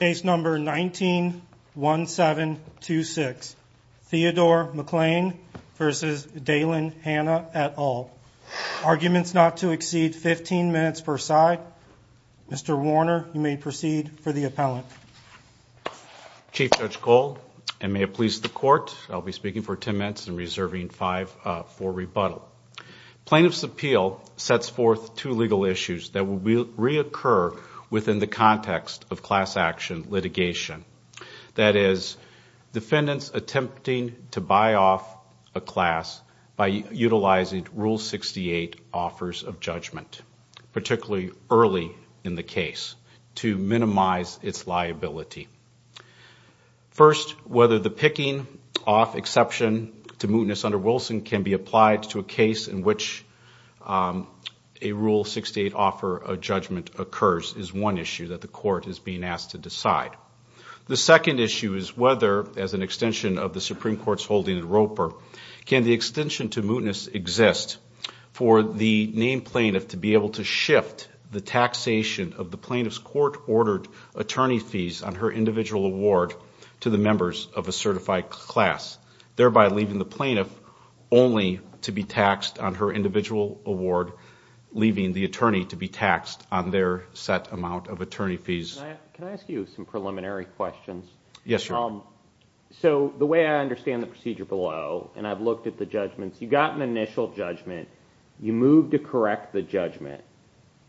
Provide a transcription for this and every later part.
Case number 19-1726. Theodore McClain v. Dalen Hanna et al. Arguments not to exceed 15 minutes per side. Mr. Warner, you may proceed for the appellant. Chief Judge Gold, and may it please the Court, I'll be speaking for ten minutes and reserving five for rebuttal. Plaintiff's appeal sets forth two legal issues that will reoccur within the context of class action litigation. That is, defendants attempting to buy off a class by utilizing Rule 68 offers of judgment, particularly early in the case, to minimize its liability. First, whether the picking off exception to mootness under Wilson can be applied to a case in which a Rule 68 offer of judgment occurs is one issue that the Court is being asked to decide. The second issue is whether, as an extension of the Supreme Court's holding in Roper, can the extension to mootness exist for the named plaintiff to be able to shift the taxation of the plaintiff's court-ordered attorney fees on her individual award to the members of a certified class, thereby leaving the plaintiff only to be taxed on her individual award, leaving the attorney to be taxed on their set amount of attorney fees. Can I ask you some preliminary questions? Yes, sir. So, the way I understand the procedure below, and I've looked at the judgments, you got an initial judgment, you moved to correct the judgment,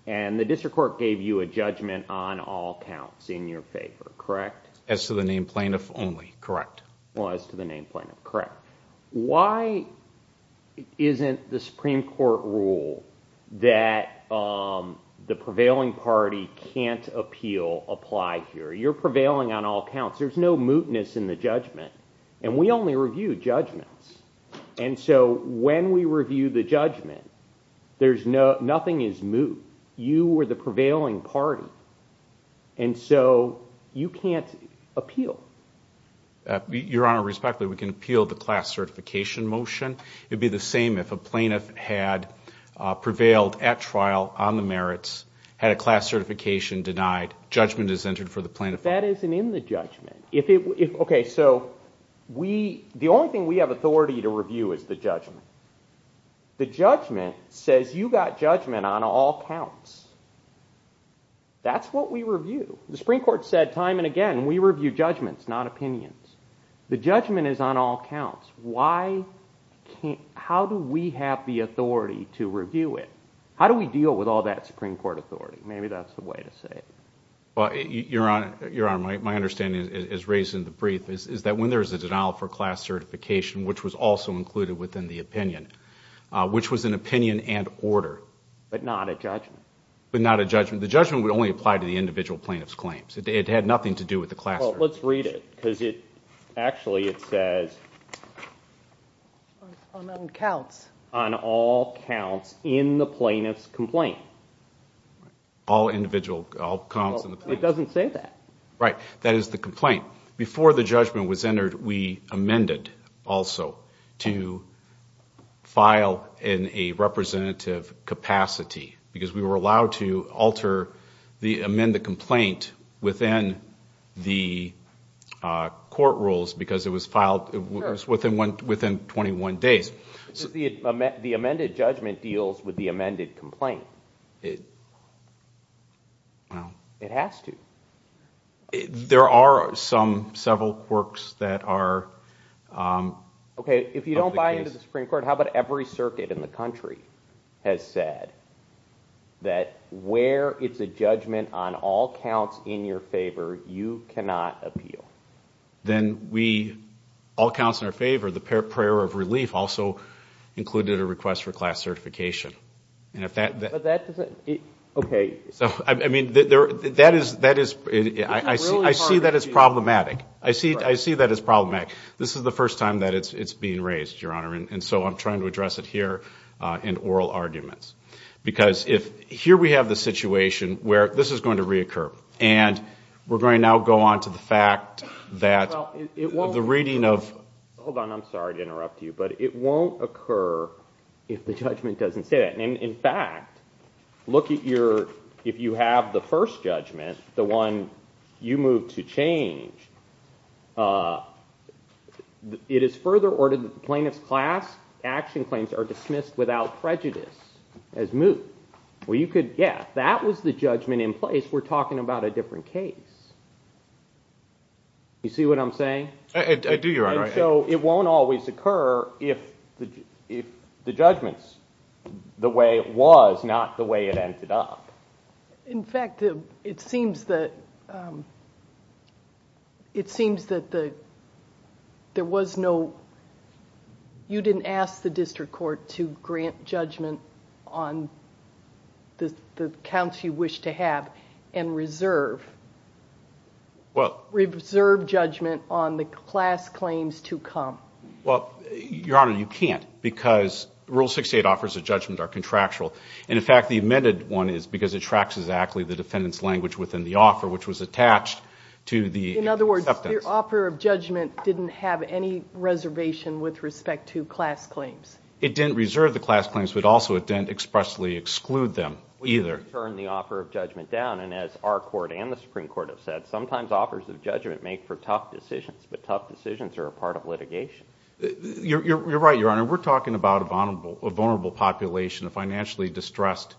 and the district court gave you a judgment on all counts in your favor, correct? As to the named plaintiff only, correct. As to the named plaintiff, correct. Why isn't the Supreme Court rule that the prevailing party can't appeal apply here? You're prevailing on all counts. There's no mootness in the judgment. And we only review judgments. And so when we review the judgment, nothing is moot. You were the prevailing party. And so you can't appeal. Your Honor, respectfully, we can appeal the class certification motion. It would be the same if a plaintiff had prevailed at trial on the merits, had a class certification denied, judgment is entered for the plaintiff. That isn't in the judgment. Okay, so the only thing we have authority to review is the judgment. The judgment says you got judgment on all counts. That's what we review. The Supreme Court said time and again we review judgments, not opinions. The judgment is on all counts. How do we have the authority to review it? How do we deal with all that Supreme Court authority? Maybe that's the way to say it. Your Honor, my understanding, as raised in the brief, is that when there's a denial for class certification, which was also included within the opinion, which was an opinion and order. But not a judgment. But not a judgment. The judgment would only apply to the individual plaintiff's claims. It had nothing to do with the class certification. Well, let's read it because actually it says on all counts in the plaintiff's complaint. All individual, all counts in the plaintiff's. It doesn't say that. Right. That is the complaint. Before the judgment was entered, we amended also to file in a representative capacity because we were allowed to alter the amended complaint within the court rules because it was filed within 21 days. The amended judgment deals with the amended complaint. It has to. There are some, several quirks that are. Okay. If you don't buy into the Supreme Court, how about every circuit in the country has said that where it's a judgment on all counts in your favor, you cannot appeal. Then we, all counts in our favor, the prayer of relief also included a request for class certification. And if that. But that doesn't. Okay. I mean, that is, I see that as problematic. I see that as problematic. This is the first time that it's being raised, Your Honor, and so I'm trying to address it here in oral arguments. Because if, here we have the situation where this is going to reoccur. And we're going to now go on to the fact that the reading of. Hold on. I'm sorry to interrupt you, but it won't occur if the judgment doesn't say that. In fact, look at your, if you have the first judgment, the one you moved to change. It is further ordered that the plaintiff's class action claims are dismissed without prejudice as moot. Well, you could, yeah, that was the judgment in place. I guess we're talking about a different case. You see what I'm saying? I do, Your Honor. And so it won't always occur if the judgment's the way it was, not the way it ended up. In fact, it seems that there was no, you didn't ask the district court to grant judgment on the counts you wish to have and reserve judgment on the class claims to come. Well, Your Honor, you can't because Rule 68 offers a judgment are contractual. And, in fact, the amended one is because it tracks exactly the defendant's language within the offer, which was attached to the acceptance. In other words, your offer of judgment didn't have any reservation with respect to class claims. It didn't reserve the class claims, but also it didn't expressly exclude them either. We turned the offer of judgment down, and as our court and the Supreme Court have said, sometimes offers of judgment make for tough decisions, but tough decisions are a part of litigation. You're right, Your Honor. We're talking about a vulnerable population of financially distressed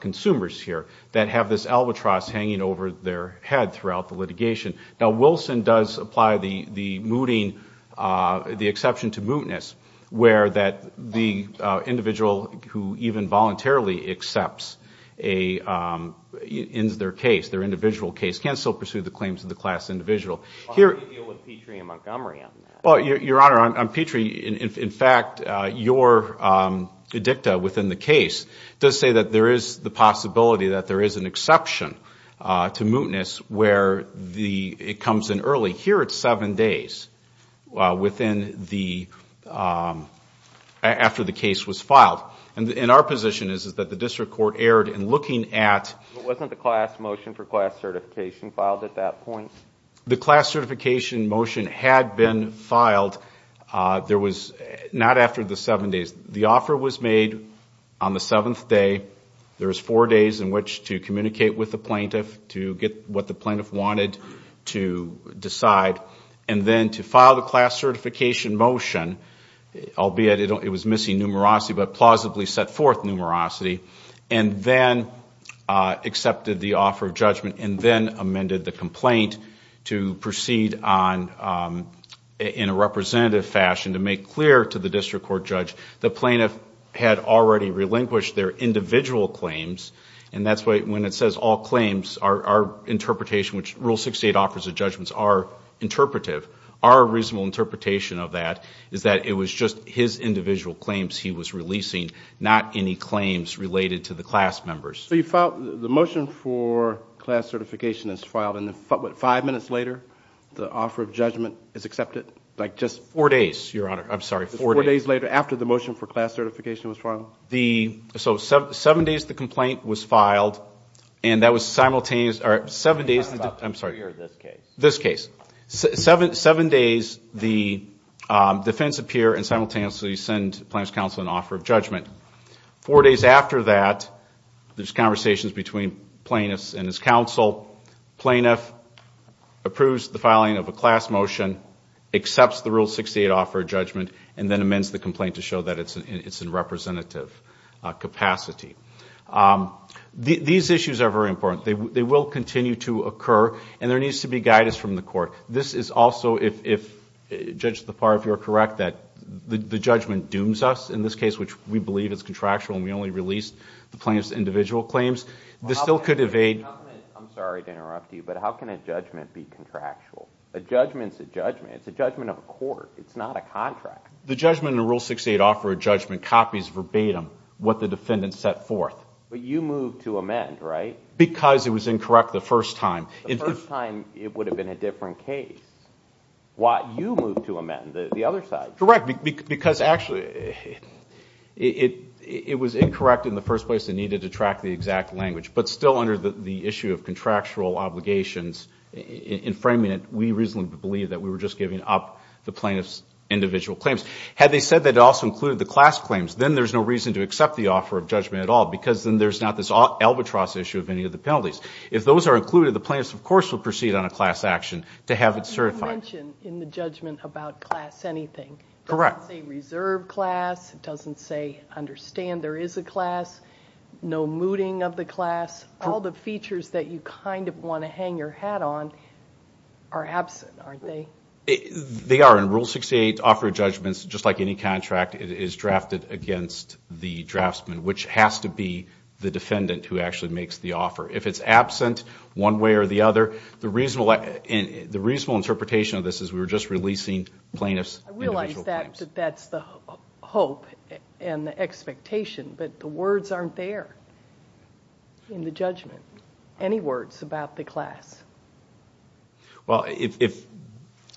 consumers here that have this albatross hanging over their head throughout the litigation. Now, Wilson does apply the mooting, the exception to mootness, where the individual who even voluntarily accepts their case, their individual case, can still pursue the claims of the class individual. How do you deal with Petrie and Montgomery on that? Well, Your Honor, on Petrie, in fact, your dicta within the case does say that there is the possibility that there is an exception to mootness where it comes in early. Here it's seven days after the case was filed. And our position is that the district court erred in looking at Wasn't the class motion for class certification filed at that point? The class certification motion had been filed. There was not after the seven days. The offer was made on the seventh day. There was four days in which to communicate with the plaintiff to get what the plaintiff wanted to decide, and then to file the class certification motion, albeit it was missing numerosity, but plausibly set forth numerosity, and then accepted the offer of judgment and then amended the complaint to proceed in a representative fashion to make clear to the district court judge the plaintiff had already relinquished their individual claims. And that's why when it says all claims, our interpretation, which Rule 68 offers a judgment, are interpretive. Our reasonable interpretation of that is that it was just his individual claims he was releasing, not any claims related to the class members. So the motion for class certification is filed, and then what, five minutes later, the offer of judgment is accepted? Like just four days, Your Honor. I'm sorry, four days. Four days later, after the motion for class certification was filed? So seven days the complaint was filed, and that was simultaneous or seven days. I'm sorry. This case. This case. Four days after that, there's conversations between plaintiffs and his counsel. Plaintiff approves the filing of a class motion, accepts the Rule 68 offer of judgment, and then amends the complaint to show that it's in representative capacity. These issues are very important. They will continue to occur, and there needs to be guidance from the court. This is also, if, Judge Lepar, if you're correct, that the judgment dooms us in this case, which we believe is contractual and we only release the plaintiff's individual claims. This still could evade. I'm sorry to interrupt you, but how can a judgment be contractual? A judgment's a judgment. It's a judgment of a court. It's not a contract. The judgment in Rule 68 offer of judgment copies verbatim what the defendant set forth. But you moved to amend, right? Because it was incorrect the first time. The first time it would have been a different case. Why you moved to amend, the other side. Correct, because actually it was incorrect in the first place. It needed to track the exact language. But still under the issue of contractual obligations, in framing it, we reasonably believe that we were just giving up the plaintiff's individual claims. Had they said that it also included the class claims, then there's no reason to accept the offer of judgment at all, because then there's not this albatross issue of any of the penalties. If those are included, the plaintiff, of course, will proceed on a class action to have it certified. You mentioned in the judgment about class anything. Correct. It doesn't say reserve class. It doesn't say understand there is a class. No mooting of the class. All the features that you kind of want to hang your hat on are absent, aren't they? They are. In Rule 68, offer of judgment, just like any contract, is drafted against the draftsman, which has to be the defendant who actually makes the offer. If it's absent one way or the other, the reasonable interpretation of this is we were just releasing plaintiff's individual claims. I realize that that's the hope and the expectation, but the words aren't there in the judgment. Any words about the class? Well,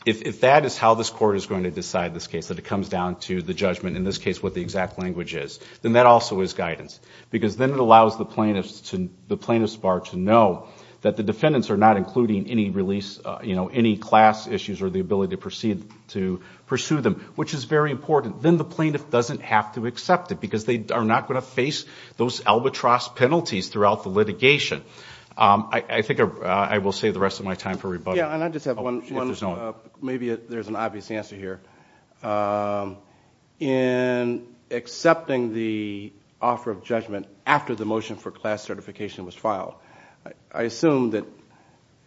if that is how this Court is going to decide this case, that it comes down to the judgment, in this case what the exact language is, then that also is guidance, because then it allows the plaintiff's bar to know that the defendants are not including any release, any class issues or the ability to pursue them, which is very important. Then the plaintiff doesn't have to accept it, because they are not going to face those albatross penalties throughout the litigation. I think I will save the rest of my time for rebuttal. Yeah, and I just have one. Maybe there's an obvious answer here. In accepting the offer of judgment after the motion for class certification was filed, I assume that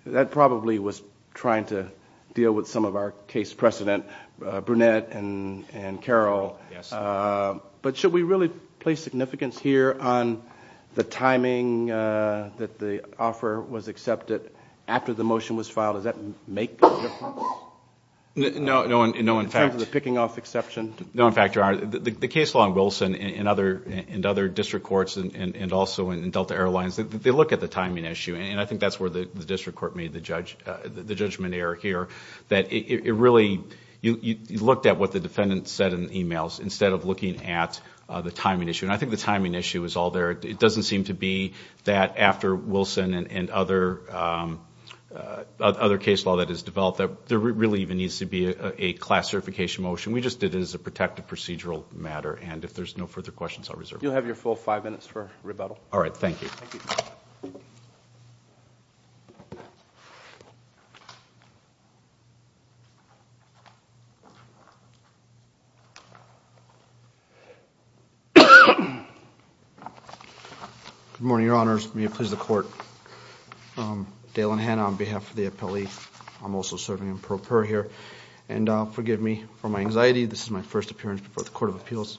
that probably was trying to deal with some of our case precedent, Brunette and Carroll. But should we really place significance here on the timing that the offer was accepted after the motion was filed? Does that make a difference? No. In terms of the picking off exception? No, in fact, Your Honor, the case law in Wilson and other district courts and also in Delta Airlines, they look at the timing issue, and I think that's where the district court made the judgment error here, that it really looked at what the defendant said in the emails instead of looking at the timing issue. And I think the timing issue is all there. It doesn't seem to be that after Wilson and other case law that is developed, that there really even needs to be a class certification motion. We just did it as a protective procedural matter, and if there's no further questions, I'll reserve it. You'll have your full five minutes for rebuttal. All right, thank you. Good morning, Your Honors. May it please the Court, Dale and Hannah on behalf of the appellee. I'm also serving in pro per here, and forgive me for my anxiety. This is my first appearance before the Court of Appeals.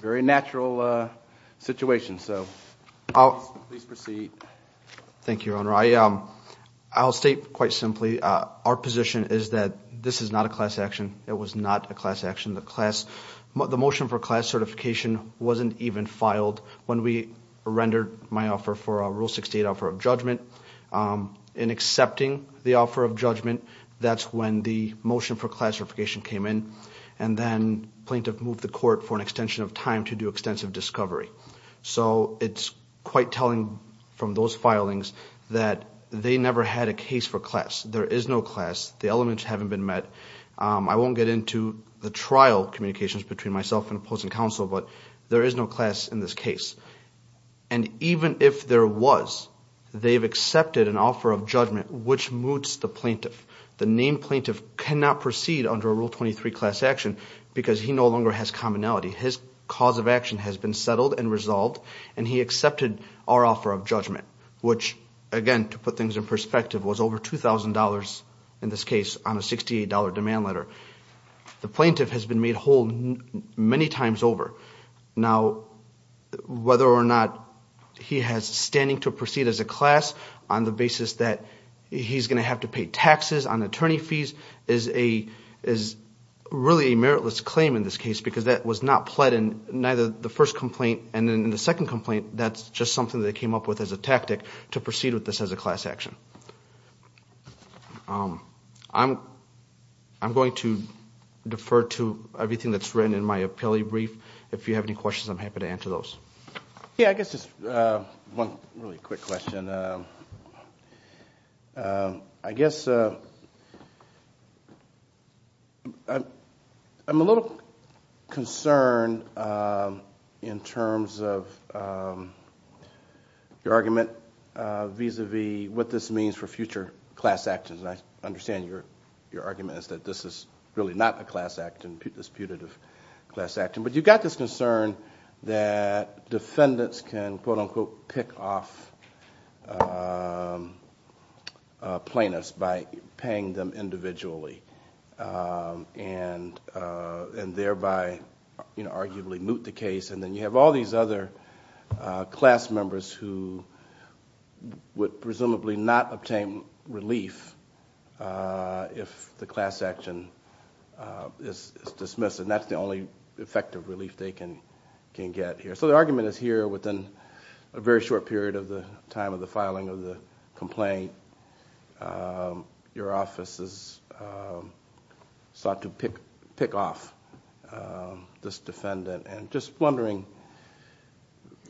Very natural situation, so please proceed. Thank you, Your Honor. I'll state quite simply our position is that this is not a class action. It was not a class action. The motion for class certification wasn't even filed when we rendered my offer for a Rule 68 offer of judgment. In accepting the offer of judgment, that's when the motion for class certification came in, and then plaintiff moved the court for an extension of time to do extensive discovery. So it's quite telling from those filings that they never had a case for class. There is no class. The elements haven't been met. I won't get into the trial communications between myself and opposing counsel, but there is no class in this case. And even if there was, they've accepted an offer of judgment, which moots the plaintiff. The named plaintiff cannot proceed under a Rule 23 class action because he no longer has commonality. His cause of action has been settled and resolved, and he accepted our offer of judgment, which, again, to put things in perspective, was over $2,000 in this case on a $68 demand letter. The plaintiff has been made whole many times over. Now, whether or not he has standing to proceed as a class on the basis that he's going to have to pay taxes on attorney fees is really a meritless claim in this case because that was not pled in neither the first complaint and in the second complaint. That's just something they came up with as a tactic to proceed with this as a class action. I'm going to defer to everything that's written in my appellee brief. If you have any questions, I'm happy to answer those. Yeah, I guess just one really quick question. I guess I'm a little concerned in terms of your argument vis-à-vis what this means for future class actions. And I understand your argument is that this is really not a class action, a disputative class action. But you've got this concern that defendants can, quote-unquote, pick off plaintiffs by paying them individually and thereby arguably moot the case. And then you have all these other class members who would presumably not obtain relief if the class action is dismissed. And that's the only effective relief they can get here. So the argument is here within a very short period of the time of the filing of the complaint, your offices sought to pick off this defendant. And just wondering,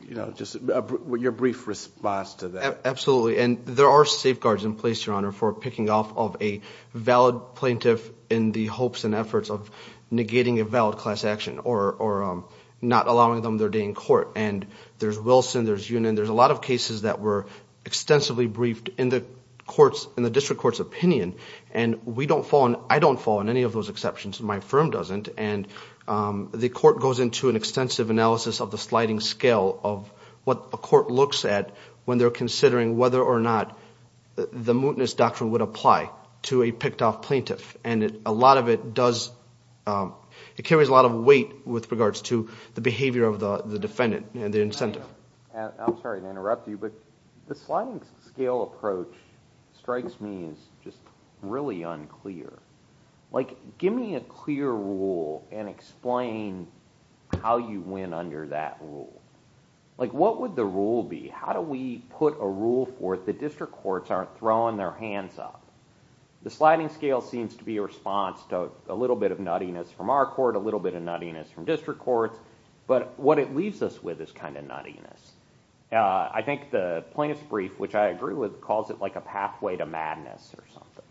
you know, just your brief response to that. Absolutely. And there are safeguards in place, Your Honor, for picking off of a valid plaintiff in the hopes and efforts of negating a valid class action or not allowing them their day in court. And there's Wilson, there's Yunin. There's a lot of cases that were extensively briefed in the district court's opinion. And I don't fall on any of those exceptions. My firm doesn't. And the court goes into an extensive analysis of the sliding scale of what a court looks at when they're considering whether or not the mootness doctrine would apply to a picked off plaintiff. And a lot of it does – it carries a lot of weight with regards to the behavior of the defendant and the incentive. I'm sorry to interrupt you, but the sliding scale approach strikes me as just really unclear. Like, give me a clear rule and explain how you win under that rule. Like, what would the rule be? How do we put a rule forth that district courts aren't throwing their hands up? The sliding scale seems to be a response to a little bit of nuttiness from our court, a little bit of nuttiness from district courts. But what it leaves us with is kind of nuttiness. I think the plaintiff's brief, which I agree with, calls it like a pathway to madness or something.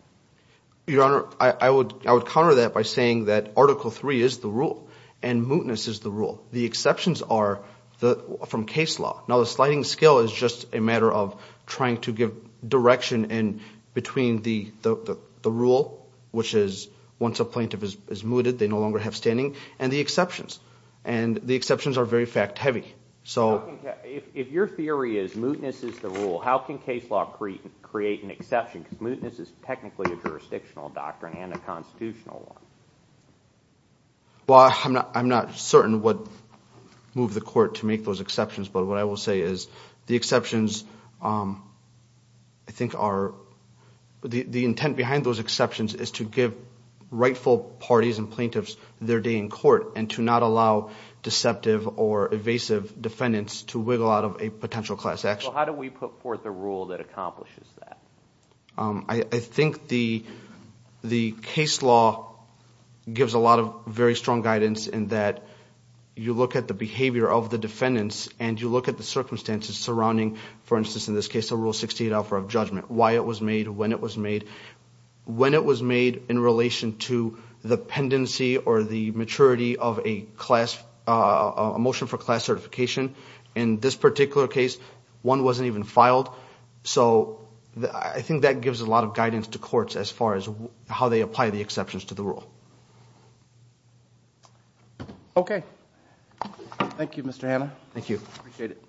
Your Honor, I would counter that by saying that Article III is the rule and mootness is the rule. The exceptions are from case law. Now, the sliding scale is just a matter of trying to give direction in between the rule, which is once a plaintiff is mooted, they no longer have standing, and the exceptions. And the exceptions are very fact-heavy. So if your theory is mootness is the rule, how can case law create an exception? Because mootness is technically a jurisdictional doctrine and a constitutional one. Well, I'm not certain what moved the court to make those exceptions, but what I will say is the exceptions I think are the intent behind those exceptions is to give rightful parties and plaintiffs their day in court and to not allow deceptive or evasive defendants to wiggle out of a potential class action. So how do we put forth a rule that accomplishes that? I think the case law gives a lot of very strong guidance in that you look at the behavior of the defendants and you look at the circumstances surrounding, for instance in this case, the Rule 68 offer of judgment, why it was made, when it was made. When it was made in relation to the pendency or the maturity of a motion for class certification, in this particular case, one wasn't even filed. So I think that gives a lot of guidance to courts as far as how they apply the exceptions to the rule. Okay. Thank you, Mr. Hanna. Thank you. Appreciate it.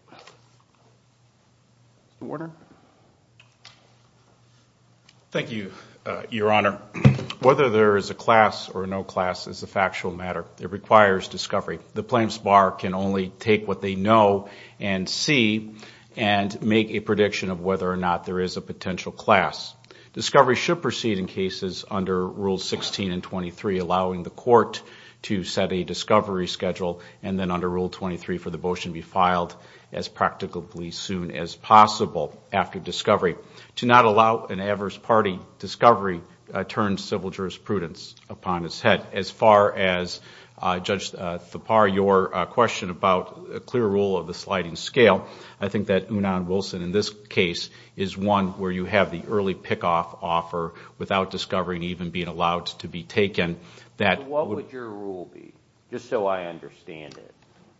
Mr. Warner. Thank you, Your Honor. Whether there is a class or no class is a factual matter. It requires discovery. The plaintiff's bar can only take what they know and see and make a prediction of whether or not there is a potential class. Discovery should proceed in cases under Rules 16 and 23, allowing the court to set a discovery schedule and then under Rule 23 for the motion to be filed as practically soon as possible after discovery. To not allow an adverse party discovery turns civil jurisprudence upon its head. As far as, Judge Thapar, your question about a clear rule of the sliding scale, I think that Unan-Wilson in this case is one where you have the early pick-off offer without discovery and even being allowed to be taken. What would your rule be, just so I understand it?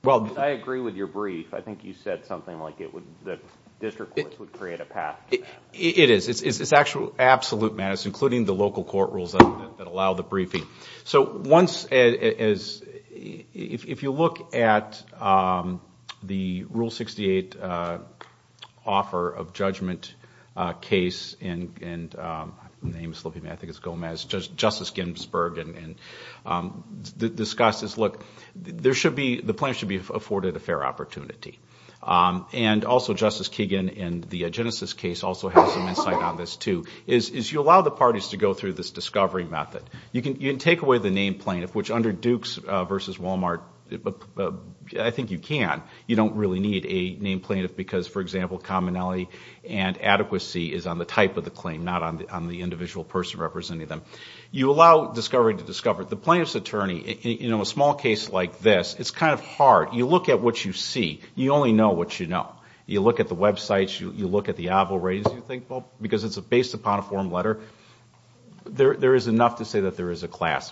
Because I agree with your brief. I think you said something like the district courts would create a path to that. It is. It is absolute, Matt. It is including the local court rules that allow the briefing. If you look at the Rule 68 offer of judgment case, and the name is slipping me, I think it is Gomez, Justice Ginsburg discussed this. Look, the plaintiff should be afforded a fair opportunity. And also Justice Kagan in the Genesis case also has some insight on this too, is you allow the parties to go through this discovery method. You can take away the name plaintiff, which under Dukes v. Walmart, I think you can. You don't really need a name plaintiff because, for example, commonality and adequacy is on the type of the claim, not on the individual person representing them. You allow discovery to discover. The plaintiff's attorney, in a small case like this, it's kind of hard. You look at what you see. You only know what you know. You look at the websites. You look at the avowal ratings. You think, well, because it's based upon a form letter, there is enough to say that there is a class,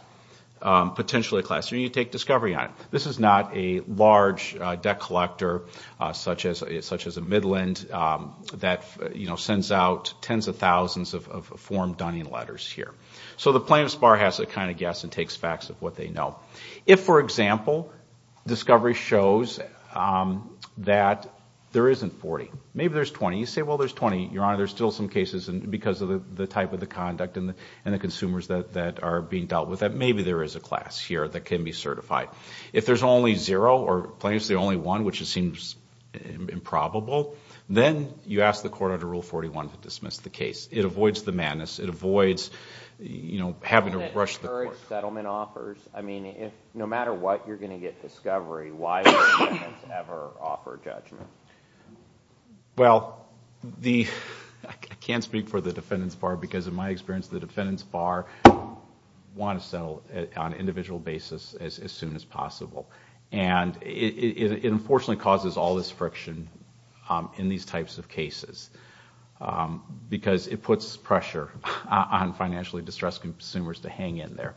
potentially a class. You take discovery on it. This is not a large debt collector such as a Midland that sends out tens of thousands of form Dunning letters here. So the plaintiff's bar has a kind of guess and takes facts of what they know. If, for example, discovery shows that there isn't 40, maybe there's 20. You say, well, there's 20. Your Honor, there's still some cases because of the type of the conduct and the consumers that are being dealt with that maybe there is a class here that can be certified. If there's only zero or plaintiff's the only one, which it seems improbable, then you ask the court under Rule 41 to dismiss the case. It avoids the madness. It avoids having to rush the court. I mean, no matter what, you're going to get discovery. Why would defendants ever offer judgment? Well, I can't speak for the defendant's bar because, in my experience, the defendant's bar wants to settle on an individual basis as soon as possible. And it unfortunately causes all this friction in these types of cases because it puts pressure on financially distressed consumers to hang in there.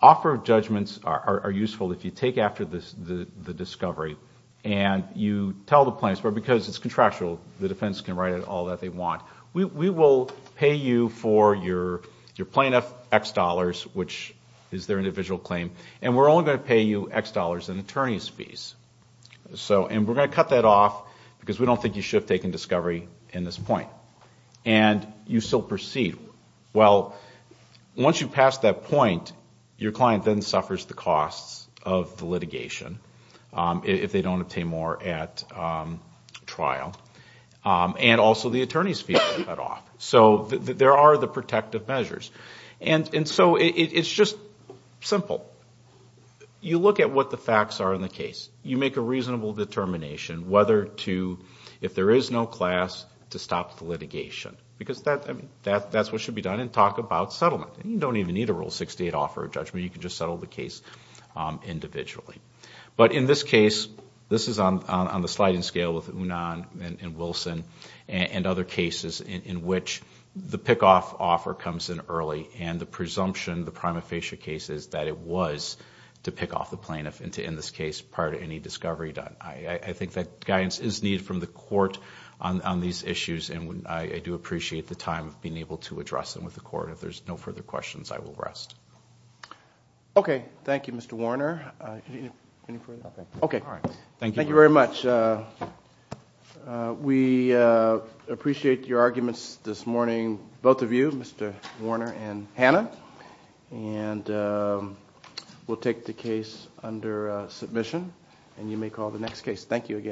Offer judgments are useful if you take after the discovery and you tell the plaintiff's bar, because it's contractual, the defense can write it all that they want. We will pay you for your plaintiff X dollars, which is their individual claim, and we're only going to pay you X dollars in attorney's fees. And we're going to cut that off because we don't think you should have taken discovery in this point. And you still proceed. Well, once you pass that point, your client then suffers the costs of the litigation if they don't obtain more at trial, and also the attorney's fees are cut off. So there are the protective measures. And so it's just simple. You look at what the facts are in the case. You make a reasonable determination whether to, if there is no class, to stop the litigation because that's what should be done, and talk about settlement. You don't even need a Rule 68 offer of judgment. You can just settle the case individually. But in this case, this is on the sliding scale with Unan and Wilson and other cases in which the pick-off offer comes in early and the presumption, the prima facie case, is that it was to pick off the plaintiff and to end this case prior to any discovery done. I think that guidance is needed from the court on these issues, and I do appreciate the time of being able to address them with the court. If there's no further questions, I will rest. Okay. Thank you, Mr. Warner. Thank you very much. We appreciate your arguments this morning, both of you, Mr. Warner and Hannah. And we'll take the case under submission, and you may call the next case. Thank you again.